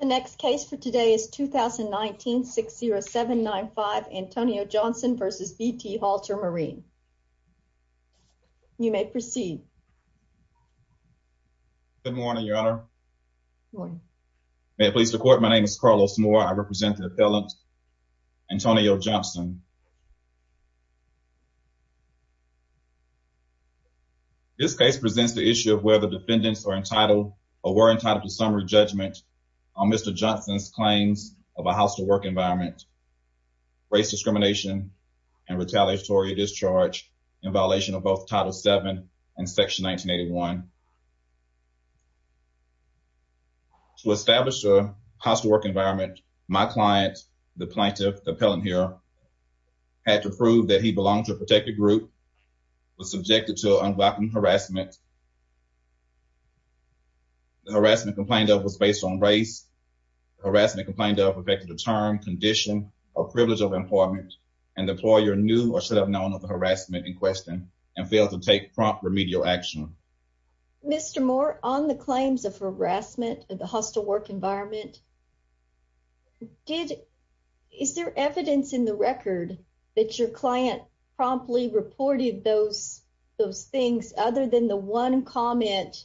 The next case for today is 2019-60795 Antonio Johnson v. VT Halter Marine. You may proceed. Good morning, your honor. May it please the court, my name is Carlos Moore. I represent the appellant Antonio Johnson. This case presents the issue of whether defendants are entitled or were entitled to summary judgment on Mr. Johnson's claims of a hostile work environment, race discrimination, and retaliatory discharge in violation of both Title VII and Section 1981. To establish a hostile work environment, my client, the plaintiff, the appellant here, had to prove that he belonged to a protected group, was subjected to an unblocking harassment, the harassment complained of was based on race, the harassment complained of affected a term, condition, or privilege of employment, and the employer knew or should have known of the harassment in question and failed to take prompt remedial action. Mr. Moore, on the claims of harassment of the hostile work environment, is there evidence in the record that your client promptly reported those things other than the one comment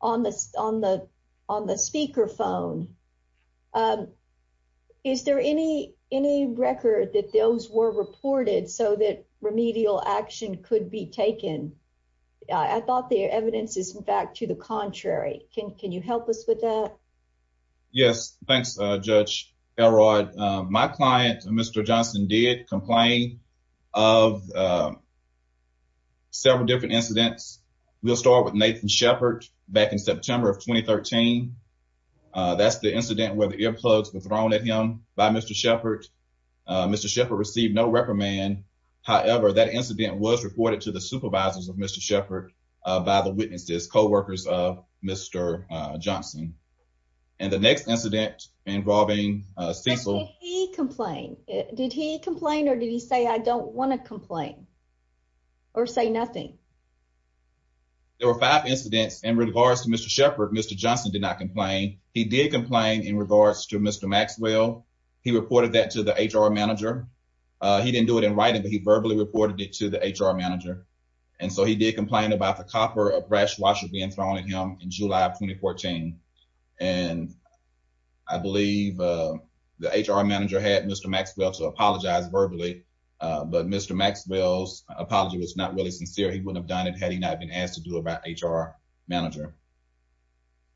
on the speakerphone? Is there any record that those were reported so that remedial action could be taken? I thought the evidence is, in fact, to the contrary. Can you help us with that? Yes, thanks, Judge Elrod. My client, Mr. Johnson, did complain of several different incidents. We'll start with Nathan Shepard back in September of 2013. That's the incident where the earplugs were thrown at him by Mr. Shepard. Mr. Shepard received no reprimand. However, that incident was reported to the supervisors of Mr. Shepard by the witnesses, co-workers of Mr. Johnson. And the next incident involving Cecil… Did he complain? Did he complain or did he say, I don't want to complain or say nothing? There were five incidents. In regards to Mr. Shepard, Mr. Johnson did not complain. He did complain in regards to Mr. Maxwell. He reported that to the HR manager. He didn't do it in writing, but he verbally reported it to the HR manager. And so he did complain about the copper brash washer being thrown at him in July of 2014. And I believe the HR manager had Mr. Maxwell to apologize verbally, but Mr. Maxwell's apology was not really sincere. He wouldn't have done it had he not been asked to do it by the HR manager.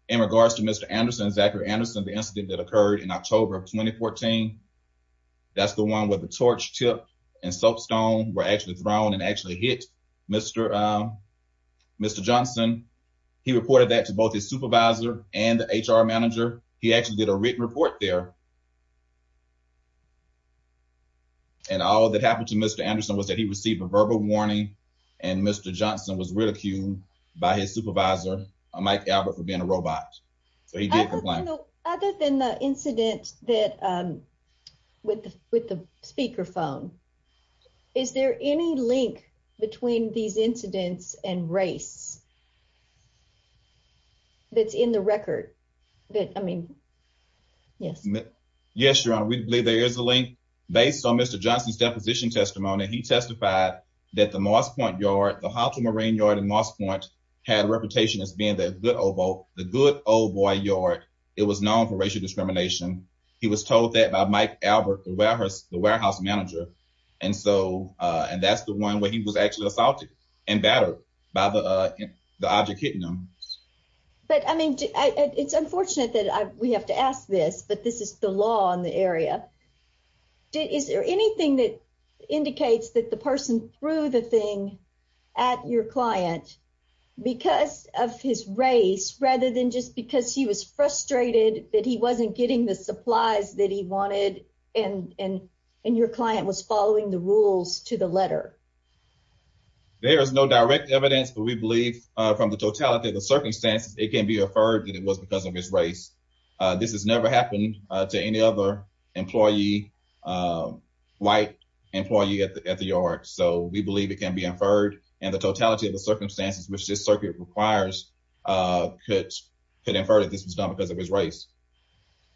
In regards to Mr. Anderson, Zachary Anderson, the incident that occurred in October of 2014, that's the one where the torch tip and soapstone were actually thrown and actually hit Mr. Johnson. He reported that to both his supervisor and the HR manager. He actually did a written report there. And all that happened to Mr. Anderson was that he received a verbal warning and Mr. Johnson was ridiculed by his supervisor, Mike Albert, for being a robot. So he did complain. Other than the incident with the speakerphone, is there any link between these incidents and race that's in the record? Yes, Your Honor. We believe there is a link. Based on Mr. Johnson's deposition testimony, he testified that the Moss Point Yard, the Hawthorne Marine Yard in Moss Point, had a reputation as being the good old boy yard. It was known for racial discrimination. He was told that by Mike Albert, the warehouse manager. And that's the one where he was actually assaulted and battered by the object hitting him. But I mean, it's unfortunate that we have to ask this, but this is the law in the area. Is there anything that indicates that the person threw the thing at your client because of his race rather than just because he was frustrated that he wasn't getting the supplies that he wanted and your client was following the rules to the letter? There is no direct evidence, but we believe from the totality of the circumstances, it can be inferred that it was because of his race. This has never happened to any other employee, white employee at the yard. So we believe it can be inferred and the totality of the circumstances which this circuit requires could infer that this was done because of his race.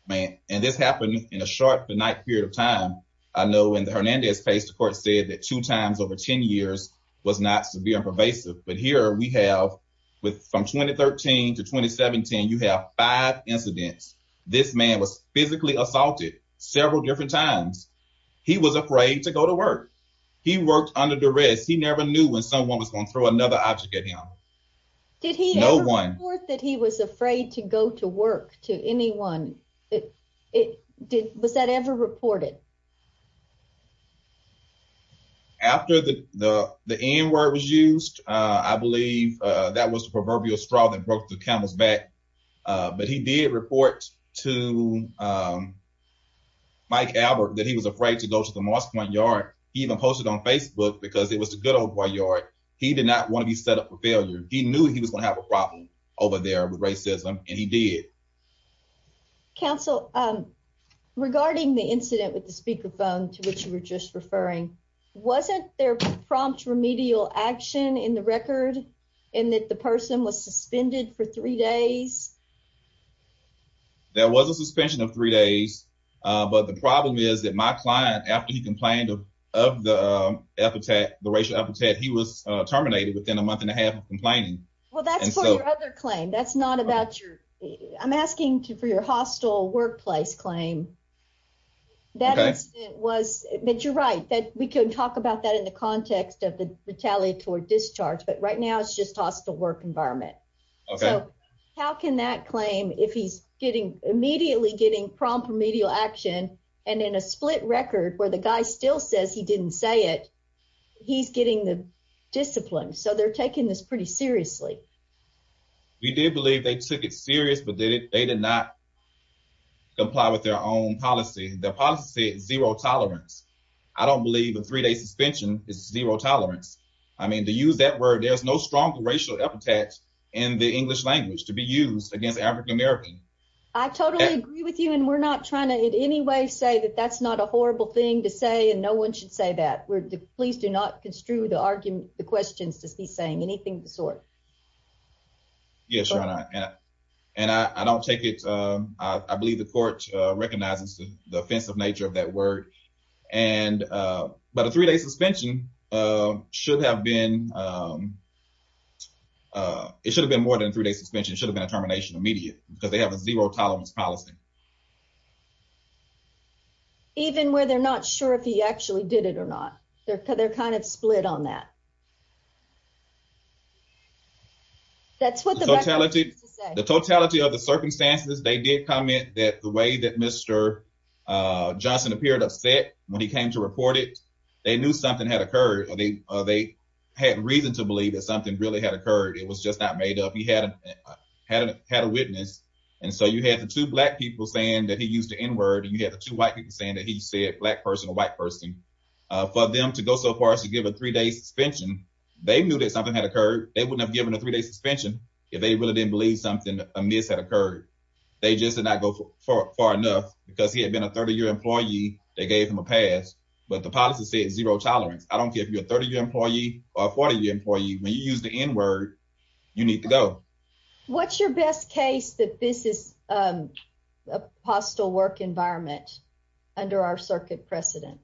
And this happened in a short period of time. I know in the Hernandez case, the court said that two times over 10 years was not severe and pervasive. But here we have from 2013 to 2017, you have five incidents. This man was physically assaulted several different times. He was afraid to go to work. He worked under duress. He never knew when someone was going to throw another object at him. Did he ever report that he was afraid to go to work to anyone? Was that ever reported? After the N word was used, I believe that was the proverbial straw that broke the camel's back. But he did report to Mike Albert that he was afraid to go to the Moss Point yard. He even posted on Facebook because it was a good old yard. He did not want to be set up for failure. He knew he was going to have a problem over there with racism and he did. Counsel, regarding the incident with the speakerphone to which you were just referring, wasn't there prompt remedial action in the record and that the person was suspended for three days? There was a suspension of three days, but the problem is that my client, after he complained of the racial epithet, he was terminated within a month and a half of complaining. Well, that's another claim. That's not about you. I'm asking for your hostile workplace claim. That was that you're right that we can talk about that in the context of the retaliatory discharge. But right now, it's just hostile work environment. How can that claim if he's getting immediately getting prompt remedial action and in a split record where the guy still says he didn't say it, he's getting the discipline. So they're taking this pretty seriously. We did believe they took it serious, but they did not comply with their own policy. The policy zero tolerance. I don't believe a three day suspension is zero tolerance. I mean, to use that word, there's no strong racial epithets in the English language to be used against African American. I totally agree with you. And we're not trying to in any way say that that's not a horrible thing to say. And no one should say that. Please do not construe the argument. The questions to be saying anything of the sort. Yes. And I don't take it. I believe the court recognizes the offensive nature of that word. And but a three day suspension should have been. It should have been more than three days suspension should have been a termination immediate because they have a zero tolerance policy. Even where they're not sure if he actually did it or not. They're kind of split on that. That's what the totality of the circumstances they did comment that the way that Mr. Johnson appeared upset when he came to report it, they knew something had occurred. They had reason to believe that something really had occurred. It was just not made up. He had a witness. And so you had the two black people saying that he used the N word. And you have the two white people saying that he said black person, a white person for them to go so far as to give a three day suspension. They knew that something had occurred. They wouldn't have given a three day suspension if they really didn't believe something amiss had occurred. They just did not go far enough because he had been a 30 year employee. They gave him a pass. But the policy said zero tolerance. I don't give you a 30 year employee or 40 year employee. When you use the N word, you need to go. What's your best case that this is a hostile work environment under our circuit precedent?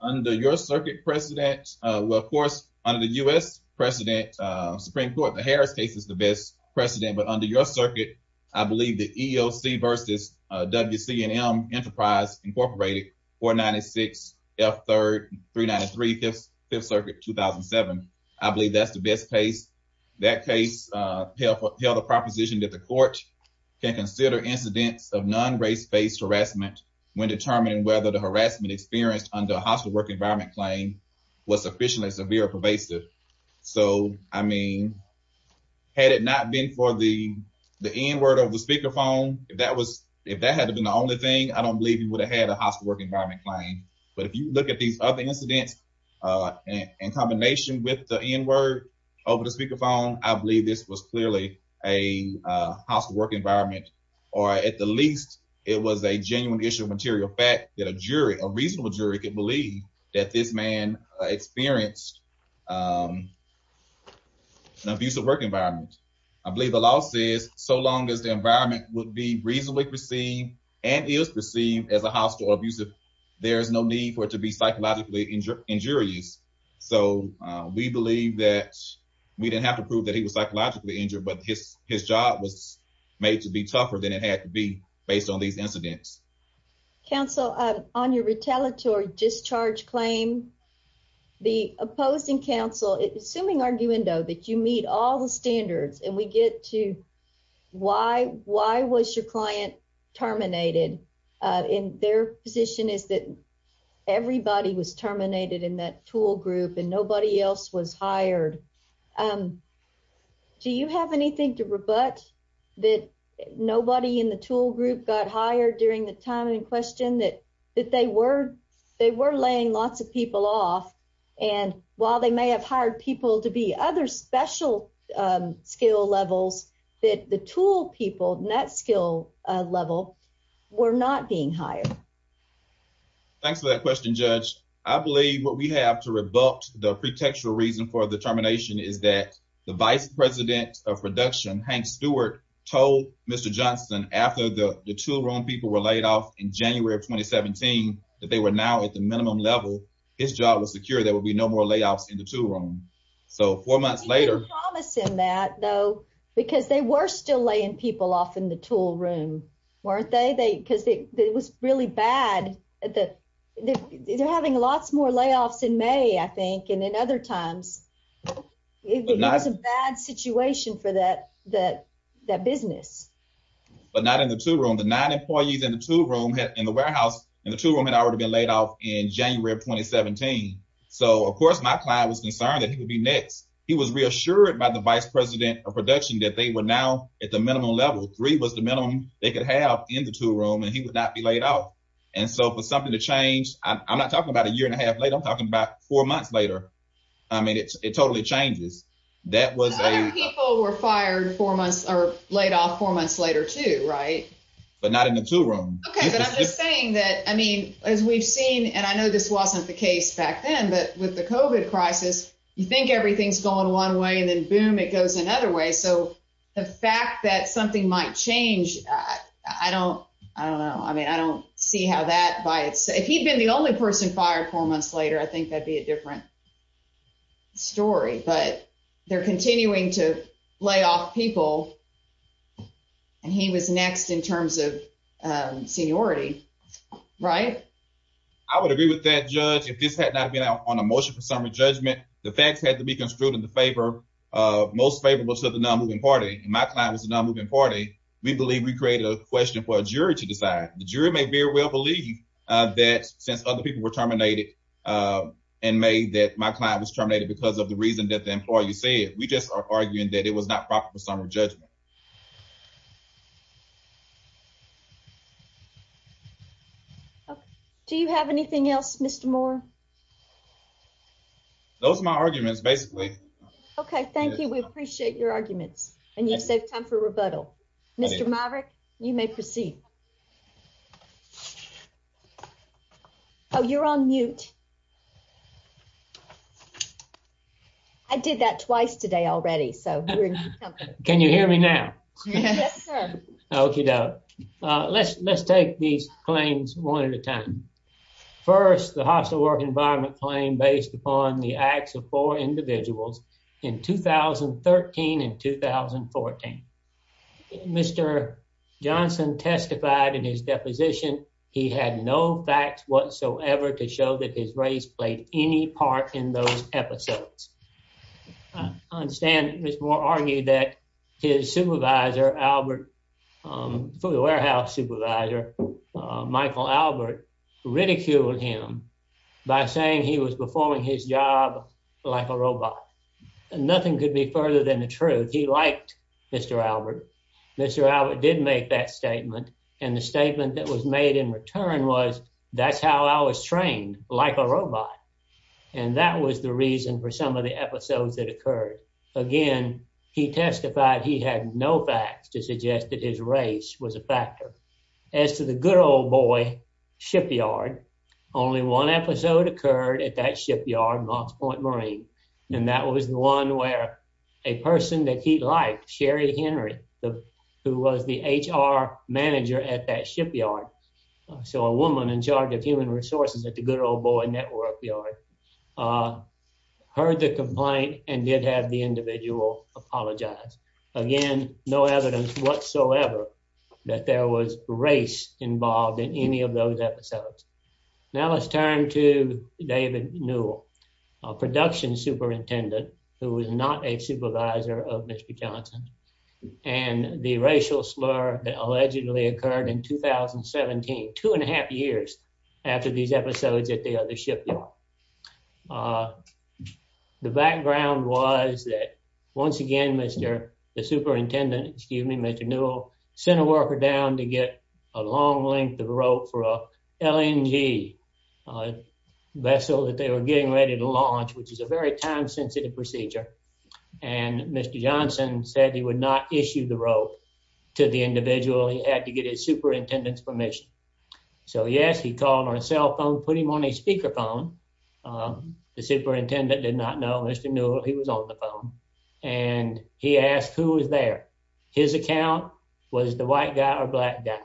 Under your circuit precedent? Well, of course, under the U.S. President Supreme Court, the Harris case is the best precedent. But under your circuit, I believe the EOC versus WC and M Enterprise Incorporated or 96 F third three ninety three fifth circuit 2007. I believe that's the best case. That case held a proposition that the court can consider incidents of non race based harassment when determining whether the harassment experienced under a hostile work environment claim was sufficiently severe pervasive. So, I mean, had it not been for the the N word of the speakerphone, if that was if that had been the only thing, I don't believe he would have had a hostile work environment claim. But if you look at these other incidents in combination with the N word over the speakerphone, I believe this was clearly a hostile work environment. Or at the least, it was a genuine issue of material fact that a jury, a reasonable jury, could believe that this man experienced an abusive work environment. I believe the law says so long as the environment would be reasonably perceived and is perceived as a hostile or abusive, there is no need for it to be psychologically injurious. So we believe that we didn't have to prove that he was psychologically injured, but his his job was made to be tougher than it had to be based on these incidents. Counsel, on your retaliatory discharge claim, the opposing counsel, assuming arguendo that you meet all the standards and we get to why why was your client terminated in their position is that everybody was terminated in that tool group and nobody else was hired. Do you have anything to rebut that nobody in the tool group got hired during the time in question that that they were they were laying lots of people off? And while they may have hired people to be other special skill levels that the tool people, not skill level, were not being hired. Thanks for that question, Judge. I believe what we have to rebut the pretextual reason for the termination is that the vice president of production, Hank Stewart, told Mr. Johnson after the two wrong people were laid off in January of twenty seventeen that they were now at the minimum level, his job was secure. There will be no more layoffs in the tool room. So four months later, promising that, though, because they were still laying people off in the tool room, weren't they? They because it was really bad that they're having lots more layoffs in May, I think. And in other times, it was a bad situation for that, that that business, but not in the tool room. The nine employees in the tool room in the warehouse and the tool room had already been laid off in January of twenty seventeen. So, of course, my client was concerned that he would be next. He was reassured by the vice president of production that they were now at the minimum level. Three was the minimum they could have in the tool room and he would not be laid out. And so for something to change, I'm not talking about a year and a half later, I'm talking about four months later. I mean, it totally changes. That was a people were fired four months or laid off four months later, too. Right. But not in the tool room. OK, but I'm just saying that, I mean, as we've seen and I know this wasn't the case back then, but with the covid crisis, you think everything's going one way and then, boom, it goes another way. So the fact that something might change, I don't I don't know. I mean, I don't see how that by it's if he'd been the only person fired four months later, I think that'd be a different story. But they're continuing to lay off people. And he was next in terms of seniority. Right. I would agree with that, judge. If this had not been on a motion for summary judgment, the facts had to be construed in the favor of most favorable to the non-moving party. My client was a non-moving party. We believe we created a question for a jury to decide. The jury may very well believe that since other people were terminated and made that my client was terminated because of the reason that the employee said, we just are arguing that it was not proper for summary judgment. Do you have anything else, Mr. Moore? Those are my arguments, basically. OK, thank you. We appreciate your arguments and you save time for rebuttal. Mr. Maverick, you may proceed. Oh, you're on mute. I did that twice today already. So can you hear me now? OK, let's take these claims one at a time. First, the hostile work environment claim based upon the acts of four individuals in 2013 and 2014. Mr. Johnson testified in his deposition he had no facts whatsoever to show that his race played any part in those episodes. I understand that Mr. Moore argued that his supervisor, the warehouse supervisor, Michael Albert, ridiculed him by saying he was performing his job like a robot. Nothing could be further than the truth. He liked Mr. Albert. Mr. Albert did make that statement. And the statement that was made in return was, that's how I was trained, like a robot. And that was the reason for some of the episodes that occurred. Again, he testified he had no facts to suggest that his race was a factor. As to the good old boy shipyard, only one episode occurred at that shipyard, Knox Point Marine. And that was the one where a person that he liked, Sherry Henry, who was the HR manager at that shipyard. So a woman in charge of human resources at the good old boy network yard, heard the complaint and did have the individual apologize. Again, no evidence whatsoever that there was race involved in any of those episodes. Now let's turn to David Newell, a production superintendent who was not a supervisor of Mr. Johnson. And the racial slur that allegedly occurred in 2017, two and a half years after these episodes at the other shipyard. The background was that, once again, the superintendent, excuse me, Mr. Newell, sent a worker down to get a long length of rope for a LNG vessel that they were getting ready to launch, which is a very time-sensitive procedure. And Mr. Johnson said he would not issue the rope to the individual. He had to get his superintendent's permission. So yes, he called on a cell phone, put him on a speaker phone. The superintendent did not know Mr. Newell. He was on the phone. And he asked who was there. His account was the white guy or black guy.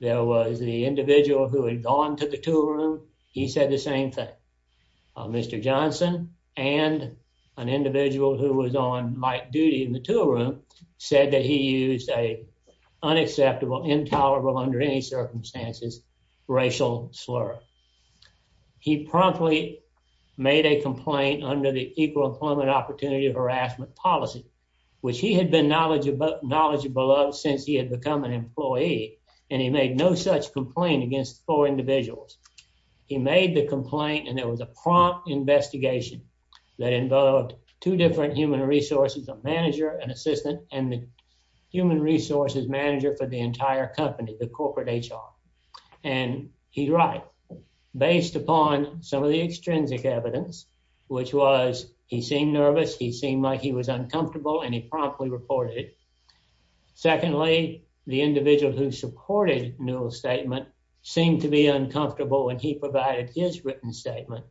There was the individual who had gone to the tool room. He said the same thing. Mr. Johnson and an individual who was on light duty in the tool room said that he used an unacceptable, intolerable under any circumstances racial slur. He promptly made a complaint under the Equal Employment Opportunity Harassment Policy, which he had been knowledgeable of since he had become an employee. And he made no such complaint against four individuals. He made the complaint, and there was a prompt investigation that involved two different human resources, a manager, an assistant, and the human resources manager for the entire company, the corporate HR. And he's right. Based upon some of the extrinsic evidence, which was he seemed nervous, he seemed like he was uncomfortable, and he promptly reported it. Secondly, the individual who supported Newell's statement seemed to be uncomfortable when he provided his written statement.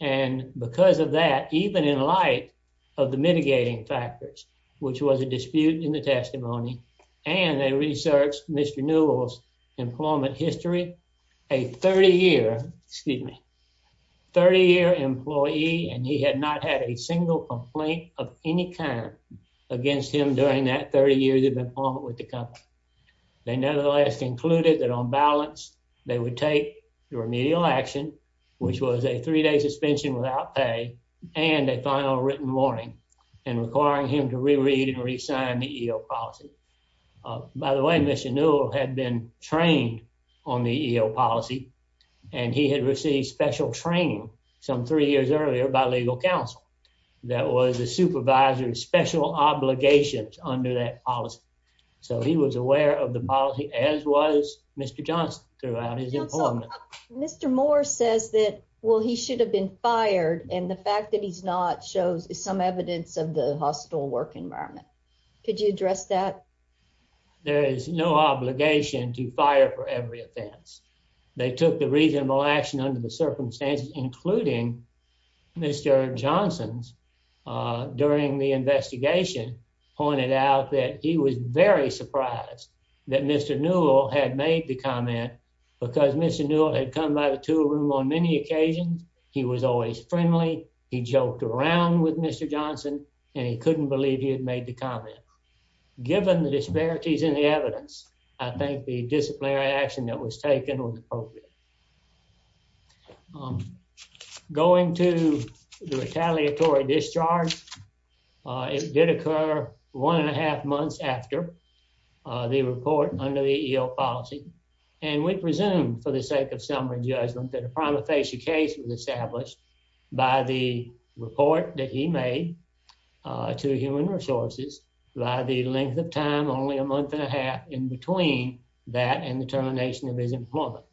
And because of that, even in light of the mitigating factors, which was a dispute in the testimony, and they researched Mr. Newell's employment history. A 30-year employee, and he had not had a single complaint of any kind against him during that 30 years of employment with the company. They nevertheless concluded that on balance, they would take the remedial action, which was a three-day suspension without pay, and a final written warning, and requiring him to reread and resign the EO policy. By the way, Mr. Newell had been trained on the EO policy, and he had received special training some three years earlier by legal counsel that was a supervisor's special obligations under that policy. So he was aware of the policy, as was Mr. Johnson throughout his employment. Mr. Moore says that, well, he should have been fired, and the fact that he's not shows some evidence of the hostile work environment. Could you address that? There is no obligation to fire for every offense. They took the reasonable action under the circumstances, including Mr. Johnson's, during the investigation, pointed out that he was very surprised that Mr. Newell had made the comment, because Mr. Newell had come by the tool room on many occasions. He was always friendly. He joked around with Mr. Johnson, and he couldn't believe he had made the comment. Given the disparities in the evidence, I think the disciplinary action that was taken was appropriate. Going to the retaliatory discharge, it did occur one and a half months after the report under the EO policy. And we presume, for the sake of summary judgment, that a prima facie case was established by the report that he made to Human Resources by the length of time only a month and a half in between that and the termination of his employment,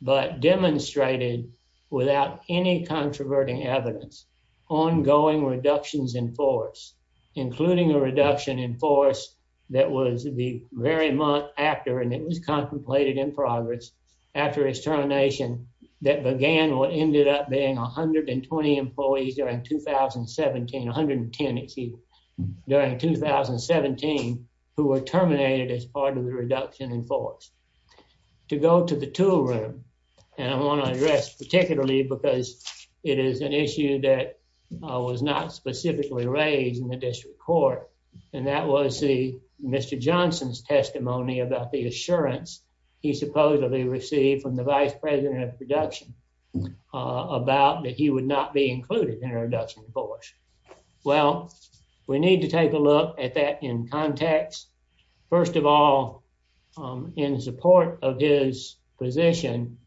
but demonstrated, without any controverting evidence, ongoing reductions in force, including a reduction in force that was the very month after, and it was contemplated in progress, after his termination, that began what ended up being 120 employees during 2017, 110, excuse me, during 2017, who were terminated as part of the reduction in force. To go to the tool room, and I want to address particularly because it is an issue that was not specifically raised in the district court, and that was the Mr. Johnson's testimony about the assurance he supposedly received from the vice president of production about that he would not be included in a reduction in force. Well, we need to take a look at that in context. First of all, in support of his position,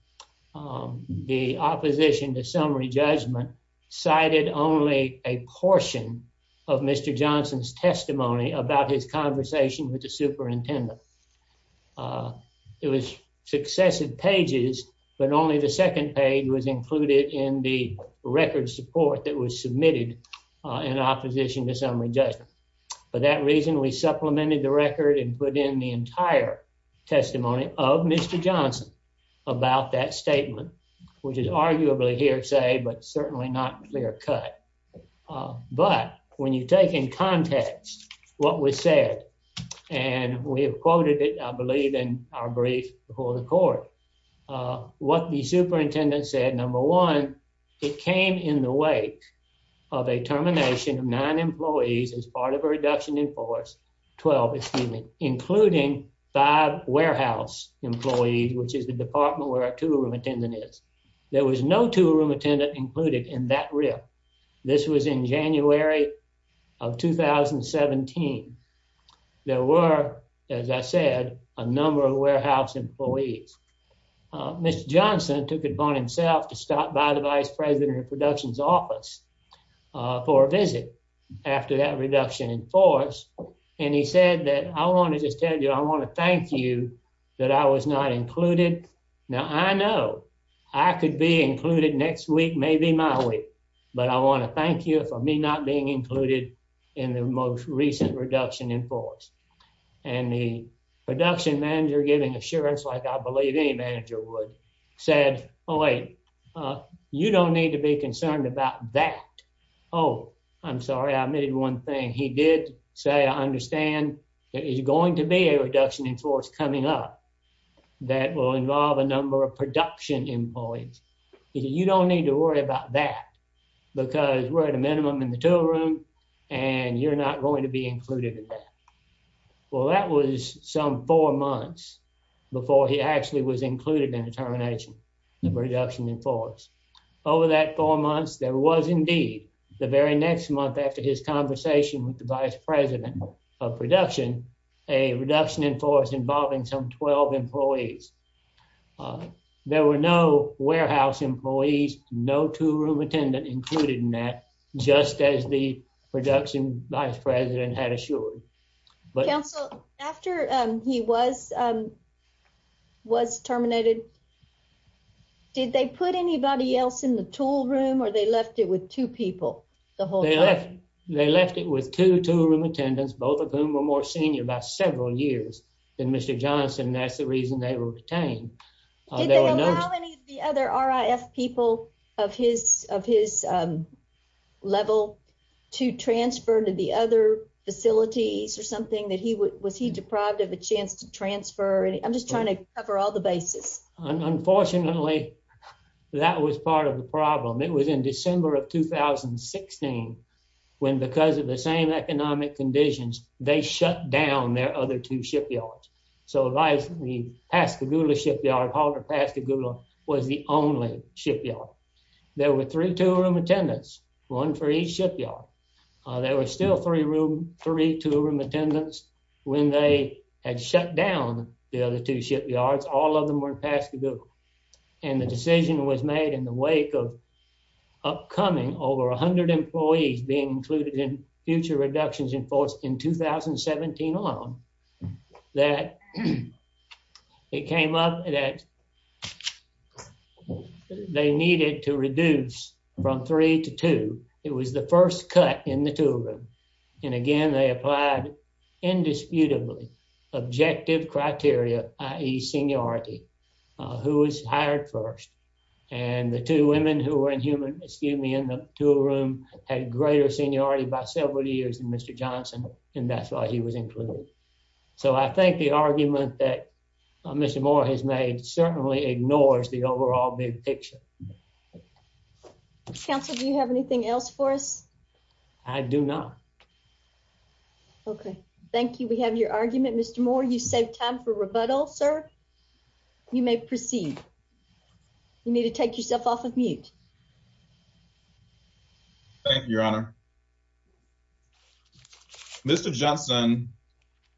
the opposition to summary judgment cited only a portion of Mr. Johnson's testimony about his conversation with the superintendent. It was successive pages, but only the second page was included in the record support that was submitted in opposition to summary judgment. For that reason, we supplemented the record and put in the entire testimony of Mr. Johnson about that statement, which is arguably hearsay, but certainly not clear cut. But when you take in context what was said, and we have quoted it, I believe, in our brief before the court, what the superintendent said, number one, it came in the wake of a termination of nine employees as part of a reduction in force, 12, excuse me, including five warehouse employees, which is the department where our tool room attendant is. There was no tool room attendant included in that rip. This was in January of 2017. There were, as I said, a number of warehouse employees. Mr. Johnson took it upon himself to stop by the Vice President of Production's office for a visit after that reduction in force, and he said that, I want to just tell you, I want to thank you that I was not included. Now, I know I could be included next week, maybe my week, but I want to thank you for me not being included in the most recent reduction in force. And the production manager, giving assurance like I believe any manager would, said, oh, wait, you don't need to be concerned about that. Oh, I'm sorry, I omitted one thing. He did say, I understand there is going to be a reduction in force coming up that will involve a number of production employees. He said, you don't need to worry about that, because we're at a minimum in the tool room, and you're not going to be included in that. Well, that was some four months before he actually was included in the termination of reduction in force. Over that four months, there was indeed, the very next month after his conversation with the Vice President of Production, a reduction in force involving some 12 employees. There were no warehouse employees, no tool room attendant included in that, just as the production Vice President had assured. Council, after he was terminated, did they put anybody else in the tool room, or they left it with two people the whole time? They left it with two tool room attendants, both of whom were more senior by several years than Mr. Johnson, and that's the reason they were retained. Did they allow any of the other RIF people of his level to transfer to the other facilities or something? Was he deprived of a chance to transfer? I'm just trying to cover all the bases. Unfortunately, that was part of the problem. It was in December of 2016, when because of the same economic conditions, they shut down their other two shipyards. The Pascagoula shipyard, called Pascagoula, was the only shipyard. There were three tool room attendants, one for each shipyard. There were still three tool room attendants. When they had shut down the other two shipyards, all of them were in Pascagoula, and the decision was made in the wake of upcoming, over 100 employees being included in future reductions in force in 2017 on, that it came up that they needed to reduce from three to two. It was the first cut in the tool room, and again, they applied indisputably objective criteria, i.e. seniority. Who was hired first? And the two women who were in the tool room had greater seniority by several years than Mr. Johnson, and that's why he was included. So I think the argument that Mr. Moore has made certainly ignores the overall big picture. Counsel, do you have anything else for us? I do not. Okay, thank you. We have your argument. Mr. Moore, you saved time for rebuttal, sir. You may proceed. You need to take yourself off of mute. Thank you, Your Honor. Mr. Johnson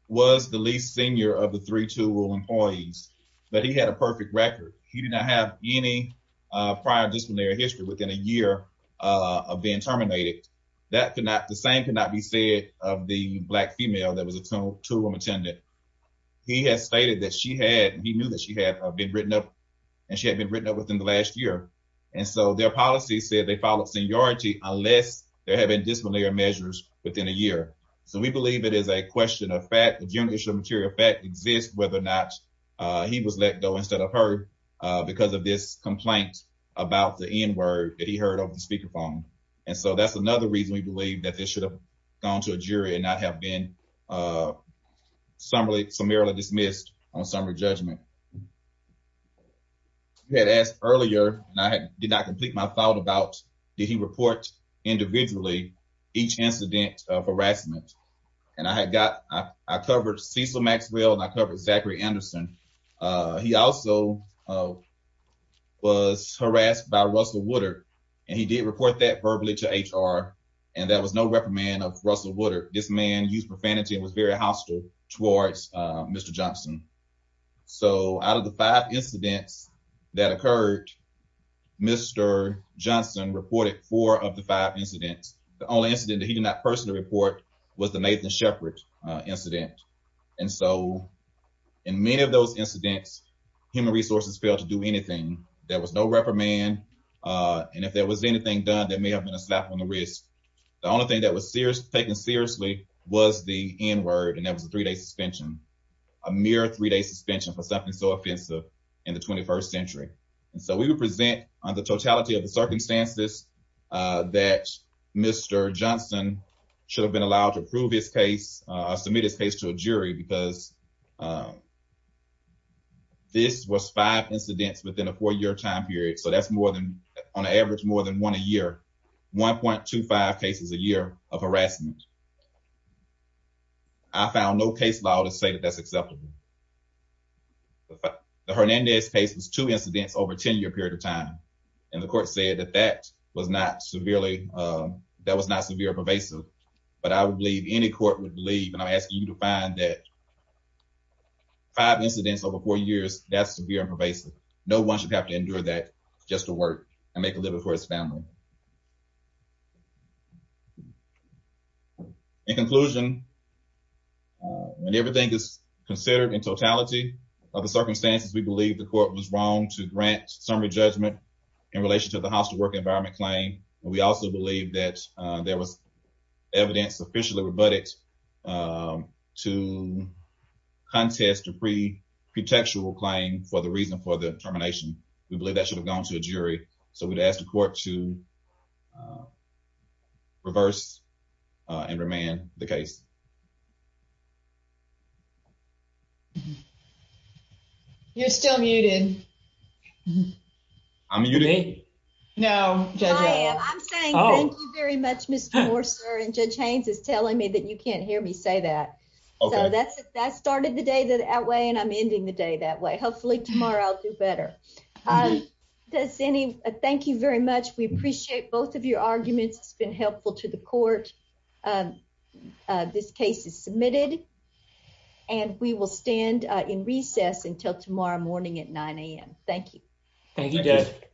was the least senior of the three tool room employees, but he had a perfect record. He did not have any prior disciplinary history within a year of being terminated. The same cannot be said of the black female that was a tool room attendant. He has stated that she had, he knew that she had been written up, and she had been written up within the last year. And so their policy said they followed seniority unless there had been disciplinary measures within a year. So we believe it is a question of fact. The general issue of material fact exists whether or not he was let go instead of heard because of this complaint about the N-word that he heard over the speakerphone. And so that's another reason we believe that this should have gone to a jury and not have been summarily dismissed on summary judgment. You had asked earlier, and I did not complete my thought about, did he report individually each incident of harassment? And I had got, I covered Cecil Maxwell and I covered Zachary Anderson. He also was harassed by Russell Woodard, and he did report that verbally to HR. And there was no reprimand of Russell Woodard. This man used profanity and was very hostile towards Mr. Johnson. So out of the five incidents that occurred, Mr. Johnson reported four of the five incidents. The only incident that he did not personally report was the Nathan Shepard incident. And so in many of those incidents, human resources failed to do anything. There was no reprimand. And if there was anything done, there may have been a slap on the wrist. The only thing that was taken seriously was the N-word, and that was a three-day suspension, a mere three-day suspension for something so offensive in the 21st century. And so we would present on the totality of the circumstances that Mr. Johnson should have been allowed to prove his case or submit his case to a jury, because this was five incidents within a four-year time period, so that's more than, on average, more than one a year, 1.25 cases a year of harassment. I found no case law to say that that's acceptable. The Hernandez case was two incidents over a 10-year period of time, and the court said that that was not severely, that was not severely pervasive. But I would believe, any court would believe, and I'm asking you to find that five incidents over four years, that's severe and pervasive. No one should have to endure that just to work and make a living for his family. In conclusion, when everything is considered in totality of the circumstances, we believe the court was wrong to grant summary judgment in relation to the hostile work environment claim. We also believe that there was evidence officially rebutted to contest a pretextual claim for the reason for the termination. We believe that should have gone to a jury, so we'd ask the court to reverse and remand the case. You're still muted. I'm muted? No. I'm saying thank you very much, Mr. Morse, and Judge Haynes is telling me that you can't hear me say that. So that started the day that way, and I'm ending the day that way. Hopefully tomorrow I'll do better. Thank you very much. We appreciate both of your arguments. It's been helpful to the court. This case is submitted, and we will stand in recess until tomorrow morning at 9 a.m. Thank you.